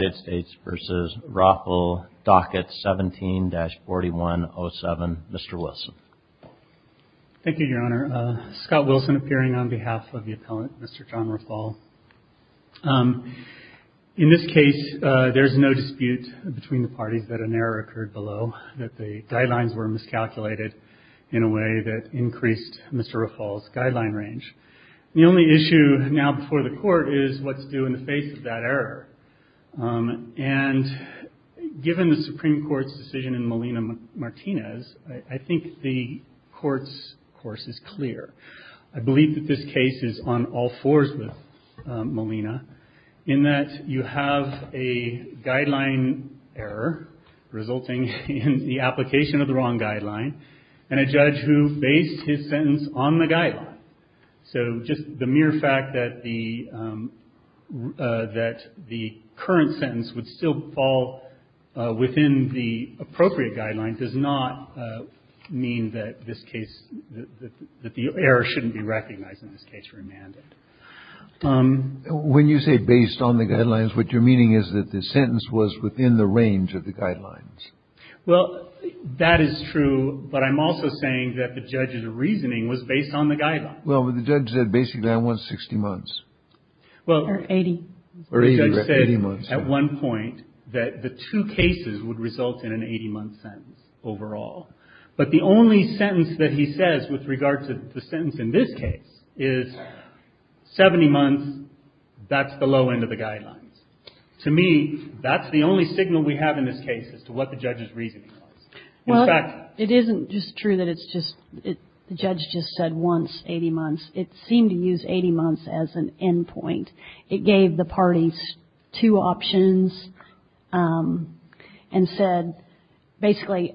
17-4107, Mr. Wilson. Thank you, Your Honor. Scott Wilson appearing on behalf of the appellant, Mr. John Rafal. In this case, there's no dispute between the parties that an error occurred below, that the guidelines were miscalculated in a way that increased Mr. Rafal's guideline range. The only issue now before the court is what's due in the face of that error. And given the Supreme Court's decision in Molina-Martinez, I think the court's course is clear. I believe that this case is on all fours with Molina in that you have a guideline error resulting in the application of the wrong guideline and a judge who based his sentence on the guideline. So just the mere fact that the – that the current sentence would still fall within the appropriate guideline does not mean that this case – that the error shouldn't be recognized in this case for a mandate. When you say based on the guidelines, what you're meaning is that the sentence was within the range of the guidelines. Well, that is true, but I'm also saying that the judge's reasoning was based on the guidelines. Well, but the judge said basically I want 60 months. Well, the judge said at one point that the two cases would result in an 80-month sentence overall. But the only sentence that he says with regard to the sentence in this case is 70 months, that's the low end of the guidelines. To me, that's the only signal we have in this case as to what the judge's reasoning was. Well, it isn't just true that it's just – the judge just said once 80 months. It seemed to use 80 months as an end point. It gave the parties two options and said basically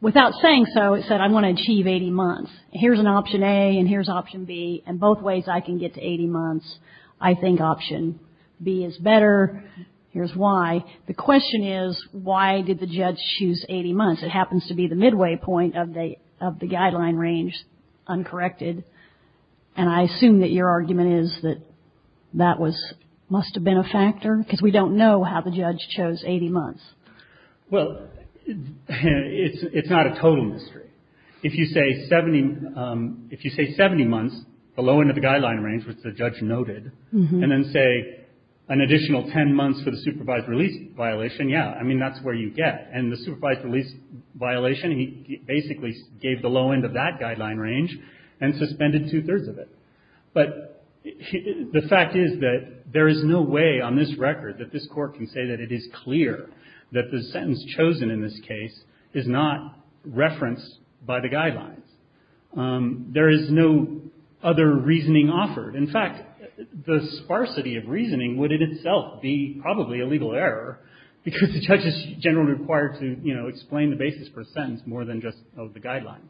without saying so, it said I want to achieve 80 months. Here's an option A and here's option B and both ways I can get to 80 months. I think option B is better. Here's why. The question is why did the judge choose 80 months? It happens to be the midway point of the guideline range, uncorrected. And I assume that your argument is that that was – must have been a factor because we don't know how the judge chose 80 months. Well, it's not a total mystery. If you say 70 months, the low end of the guideline range, which the judge noted, and then say an additional 10 months for the supervised release violation, yeah, I mean, that's where you get. And the supervised release violation, he basically gave the low end of that guideline range and suspended two-thirds of it. But the fact is that there is no way on this record that this Court can say that it is clear that the sentence chosen in this case is not referenced by the guidelines. There is no other reasoning offered In fact, the sparsity of reasoning would in itself be probably a legal error because the judge is generally required to explain the basis for a sentence more than just of the guideline.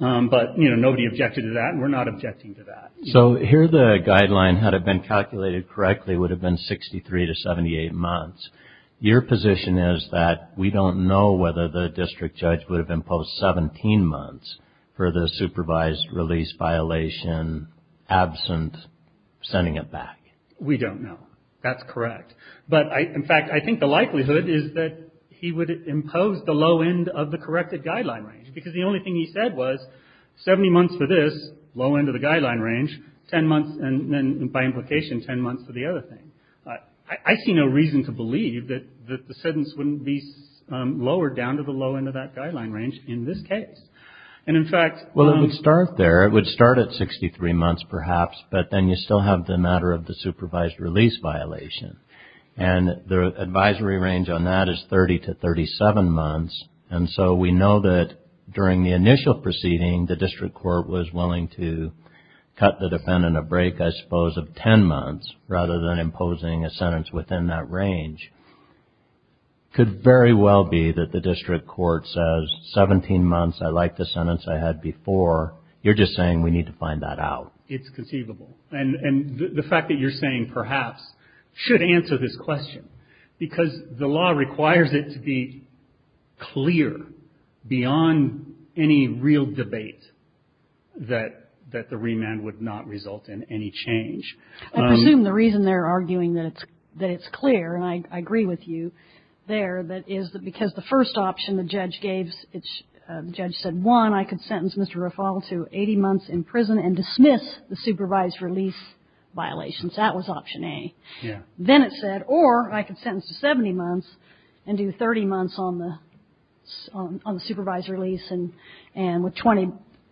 But nobody objected to that and we're not objecting to that. So here the guideline, had it been calculated correctly, would have been 63 to 78 months. Your position is that we don't know whether the district judge would have imposed 17 months for the supervised release violation absent sending it back. We don't know. That's correct. But in fact, I think the likelihood is that he would have imposed the low end of the corrected guideline range because the only thing he said was 70 months for this, low end of the guideline range, 10 months and then by implication 10 months for the other thing. I see no reason to believe that the sentence wouldn't be lowered down to the low end of that range in this case. And in fact, Well, it would start there. It would start at 63 months perhaps, but then you still have the matter of the supervised release violation. And the advisory range on that is 30 to 37 months. And so we know that during the initial proceeding, the district court was willing to cut the defendant a break, I believe. And so the fact that you're saying perhaps should answer this question, because the law requires it to be clear beyond any real debate that the remand would not result in any change. I presume the reason they're arguing that it's clear, and I agree with that, is I don't think the remand would not result in any change. I agree with you there that is that because the first option the judge gave, the judge said one, I could sentence Mr. Raffal to 80 months in prison and dismiss the supervised release violations. That was option A. Yeah. Then it said or I could sentence to 70 months and do 30 months on the supervised release and with 20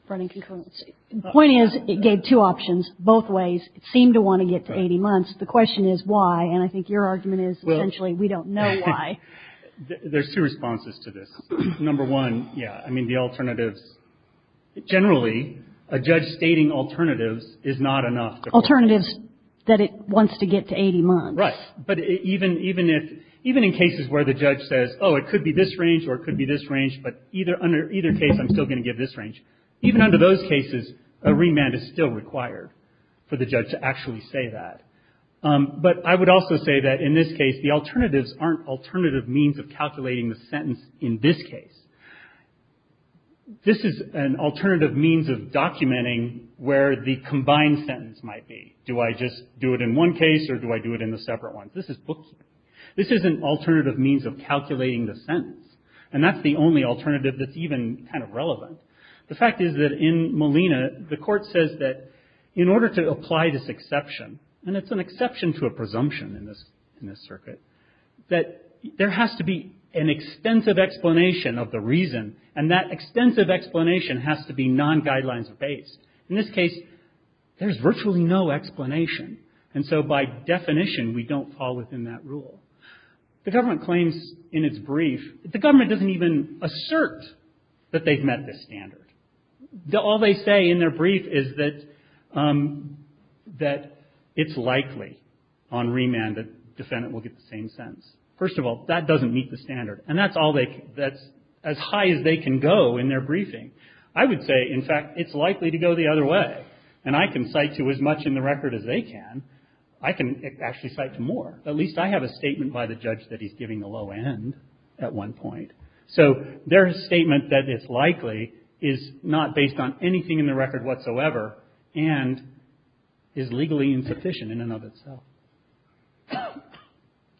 running concurrency. The point is it gave two options both ways. It seemed to want to get to 80 months. The question is why? And I think your answer is actually we don't know why. There's two responses to this. Number one, yeah, I mean, the alternatives. Generally, a judge stating alternatives is not enough. Alternatives that it wants to get to 80 months. Right. But even in cases where the judge says, oh, it could be this range or it could be this range, but either case I'm still going to give this range. Even under those cases, a remand is still required for the judge to actually say that. But I would also say that in this case, the alternatives aren't alternative means of calculating the sentence in this case. This is an alternative means of documenting where the combined sentence might be. Do I just do it in one case or do I do it in a separate one? This is bookkeeping. This is an alternative means of calculating the sentence. And that's the only alternative that's even kind of relevant. The fact is that in Molina, the court says that in order to apply this exception, and it's an exception to a presumption in this in this circuit, that there has to be an extensive explanation of the reason. And that extensive explanation has to be non guidelines based. In this case, there's virtually no explanation. And so by definition, we don't fall within that rule. The government claims in its brief, the government doesn't even assert that they've met this standard. And that's as high as they can go in their briefing. I would say, in fact, it's likely to go the other way. And I can cite to as much in the record as they can. I can actually cite to more. At least I have a statement by the judge that he's giving the low end at one point. So their statement that it's likely is not insufficient in and of itself.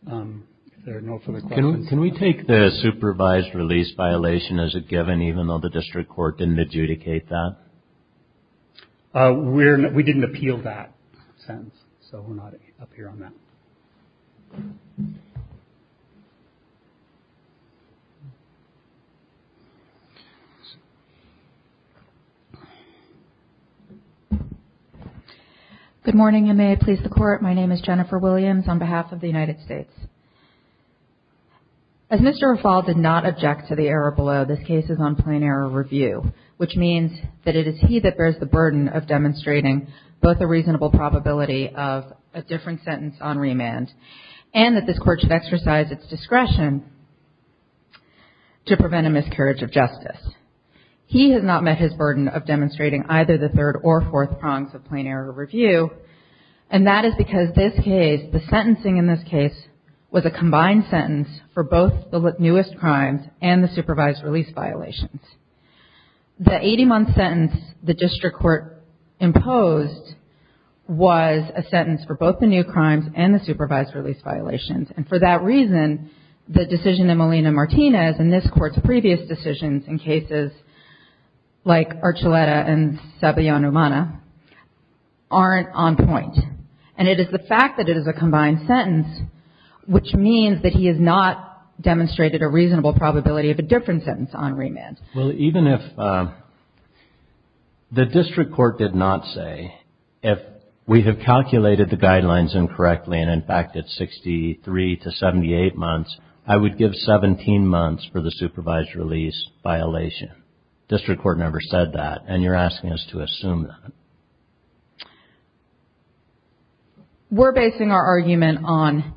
Can we take the supervised release violation as a given, even though the district court didn't adjudicate that? We didn't appeal that sentence. So we're not up here on that. Good morning. May I please the court? My name is Jennifer Williams on behalf of the United States. As Mr. Raffal did not object to the error below, this case is on plain error review, which means that it is he that bears the burden of demonstrating both a reasonable probability of a different sentence on remand, and that this court should exercise its discretion to prevent a miscarriage of justice. He has not met his burden of demonstrating either the third or fourth prongs of plain error review. And that is because this case, the sentencing in this case, was a combined sentence for both the newest crimes and the supervised release violations. The 80-month sentence the district court imposed was a sentence for both the new crimes and the supervised release violations. And for that reason, the decision in Molina-Martinez and this Court's previous decisions in cases like Archuleta and Sabayon-Umana aren't on point. And it is the fact that it is a combined sentence which means that he has not demonstrated a reasonable probability of a different sentence on remand. Well, even if the district court did not say, if we have calculated the guidelines incorrectly, and in fact it is 63 to 78 months, I would give 17 months for the supervised release violation. The district court never said that, and you are asking us to assume that. We are basing our argument on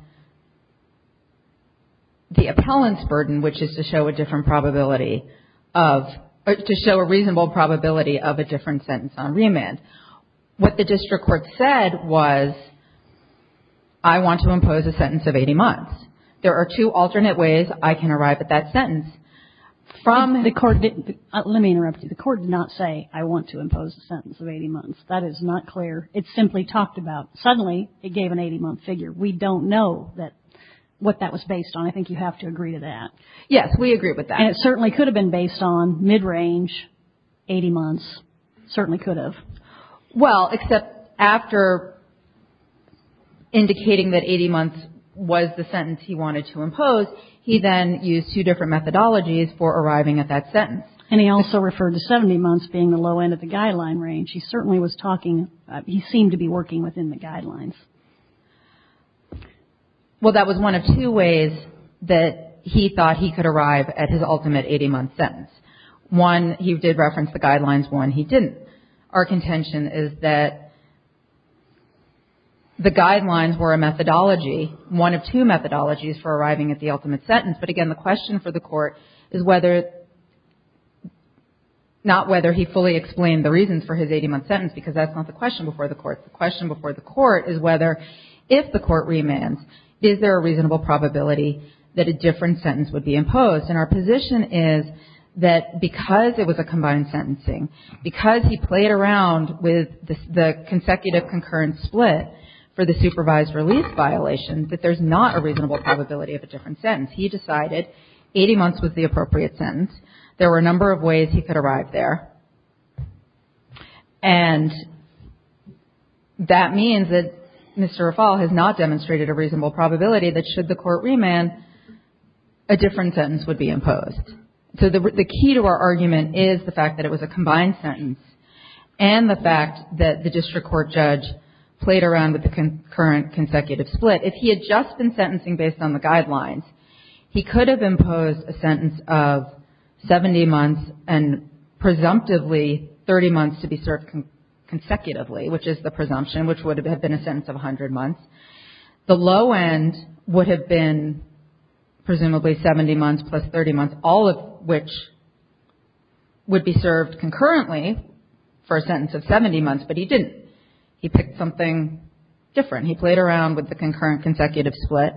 the appellant's burden, which is to show a different probability of, to show a reasonable probability of a different sentence on remand. What the district court said was, I want to impose a sentence of 80 months. There are two alternate ways I can arrive at that sentence. Let me interrupt you. The court did not say, I want to impose a sentence of 80 months. That is not clear. It simply talked about, suddenly it gave an 80-month figure. We don't know what that was based on. I think you have to agree to that. Yes, we agree with that. And it certainly could have been based on mid-range 80 months, certainly could have. Well, except after indicating that 80 months was the sentence he wanted to impose, he then used two different methodologies for arriving at that sentence. And he also referred to 70 months being the low end of the guideline range. He certainly was talking, he seemed to be working within the guidelines. Well, that was one of two ways that he thought he could arrive at his ultimate 80-month sentence. One, he did reference the guidelines. One, he didn't. Our contention is that the guidelines were a methodology, one of two methodologies for arriving at the ultimate sentence. But again, the question for the court is whether, not whether he fully explained the reasons for his 80-month sentence because that's not the question before the court. The question before the court is whether, if the court remands, is there a reasonable probability that a different sentence would be imposed. And our position is that because it was a combined sentencing, because he played around with the consecutive concurrent split for the supervised release violation, that there's not a reasonable probability of a different sentence. He decided 80 months was the appropriate sentence. There were a number of ways he could arrive there. And that means that Mr. Raffall has not demonstrated a reasonable probability that should the court remand, a different sentence would be imposed. So the key to our argument is the fact that it was a combined sentence and the fact that the district court judge played around with the concurrent consecutive split. If he had just been sentencing based on the guidelines, he could have imposed a sentence of 70 months and presumptively 30 months to be served consecutively, which is the presumption, which would have been a sentence of 100 months. The low end would have been presumably 70 months plus 30 months, all of which would be served concurrently for a sentence of 70 months. But he didn't. He picked something different. He played around with the concurrent consecutive split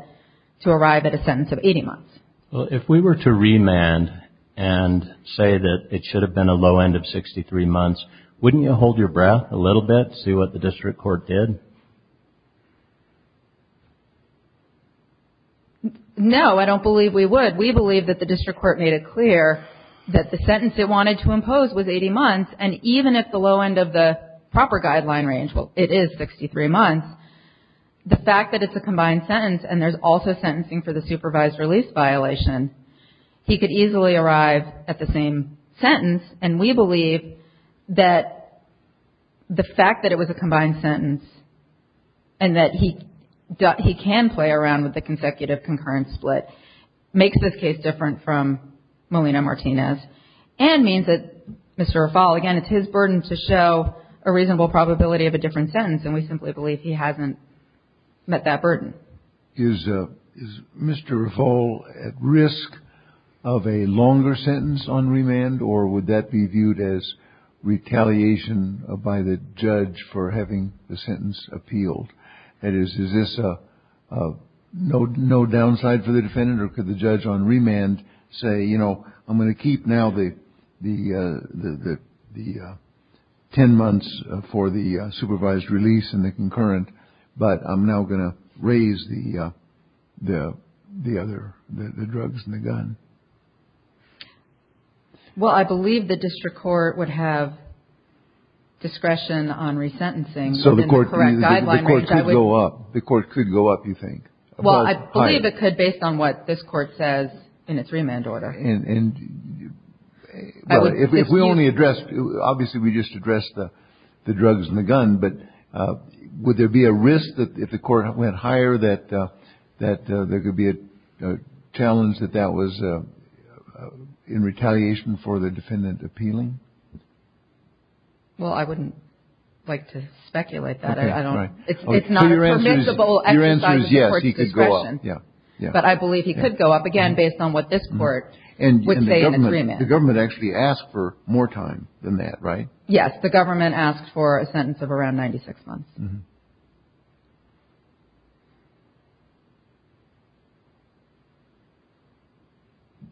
to arrive at a sentence of 80 months. Well, if we were to remand and say that it should have been a low end of 63 months, wouldn't you hold your breath a little bit, see what the district court did? No, I don't believe we would. We believe that the district court made it clear that the sentence it wanted to impose was 80 months. And even if the low end of the proper guideline range, well, it is 63 months, the fact that it's a combined sentence and there's also sentencing for the supervised release violation, he could easily arrive at the same sentence. And we believe that the fact that it was a combined sentence and that he can play around with the consecutive concurrent split makes this case different from Molina-Martinez and means that Mr. Raffal, again, it's his burden to show a reasonable probability of a different sentence. And we simply believe he hasn't met that burden. Is Mr. Raffal at risk of a longer sentence on remand, or would that be viewed as retaliation by the judge for having the sentence appealed? That is, is this no downside for the defendant, or could the judge on remand say, you know, I'm going to keep now the 10 months for the supervised release and the concurrent, but I'm now going to raise the other, the drugs and the gun? Well, I believe the district court would have discretion on resentencing. So the court could go up, the court could go up, you think? Well, I believe it could based on what this court says in its remand order. If we only addressed, obviously we just addressed the drugs and the gun, but would there be a risk that if the court went higher that there could be a challenge that that was in retaliation for the defendant appealing? Well, I wouldn't like to speculate that. It's not a permissible exercise of the court's discretion, but I believe he could go up again based on what this court would say in its remand. The government actually asked for more time than that, right? Yes, the government asked for a sentence of around 96 months.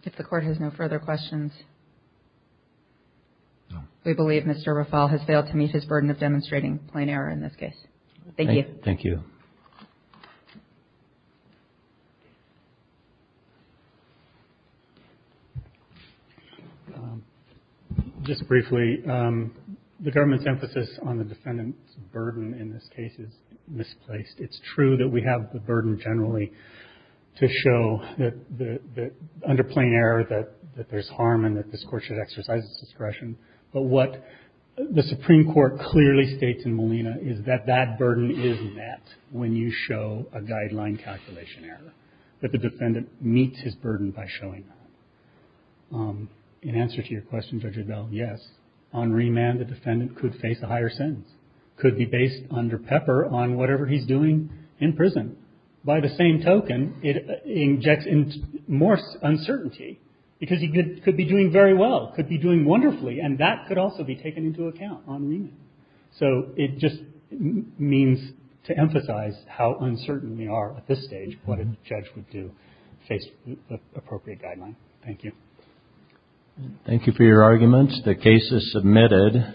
If the court has no further questions, we believe Mr. Rafal has failed to meet his burden of demonstrating plain error in this case. Thank you. Just briefly, the government's emphasis on the defendant's burden in this case is misplaced. It's true that we have the burden generally to show that under plain error that there's harm and that this court should exercise its discretion. But what the Supreme Court clearly states in Molina is that that burden is met when you show a guideline calculation error, that the defendant meets his burden by showing that. In answer to your question, Judge Adbell, yes. On remand, the defendant could face a higher sentence, could be based under pepper on whatever he's doing in prison. By the same token, it injects more uncertainty because he could be doing very well, could be doing wonderfully, and that could also be taken into account on remand. So it just means to emphasize how uncertain we are at this stage, what a judge would do to face appropriate guideline. Thank you. Thank you for your arguments. The case is submitted.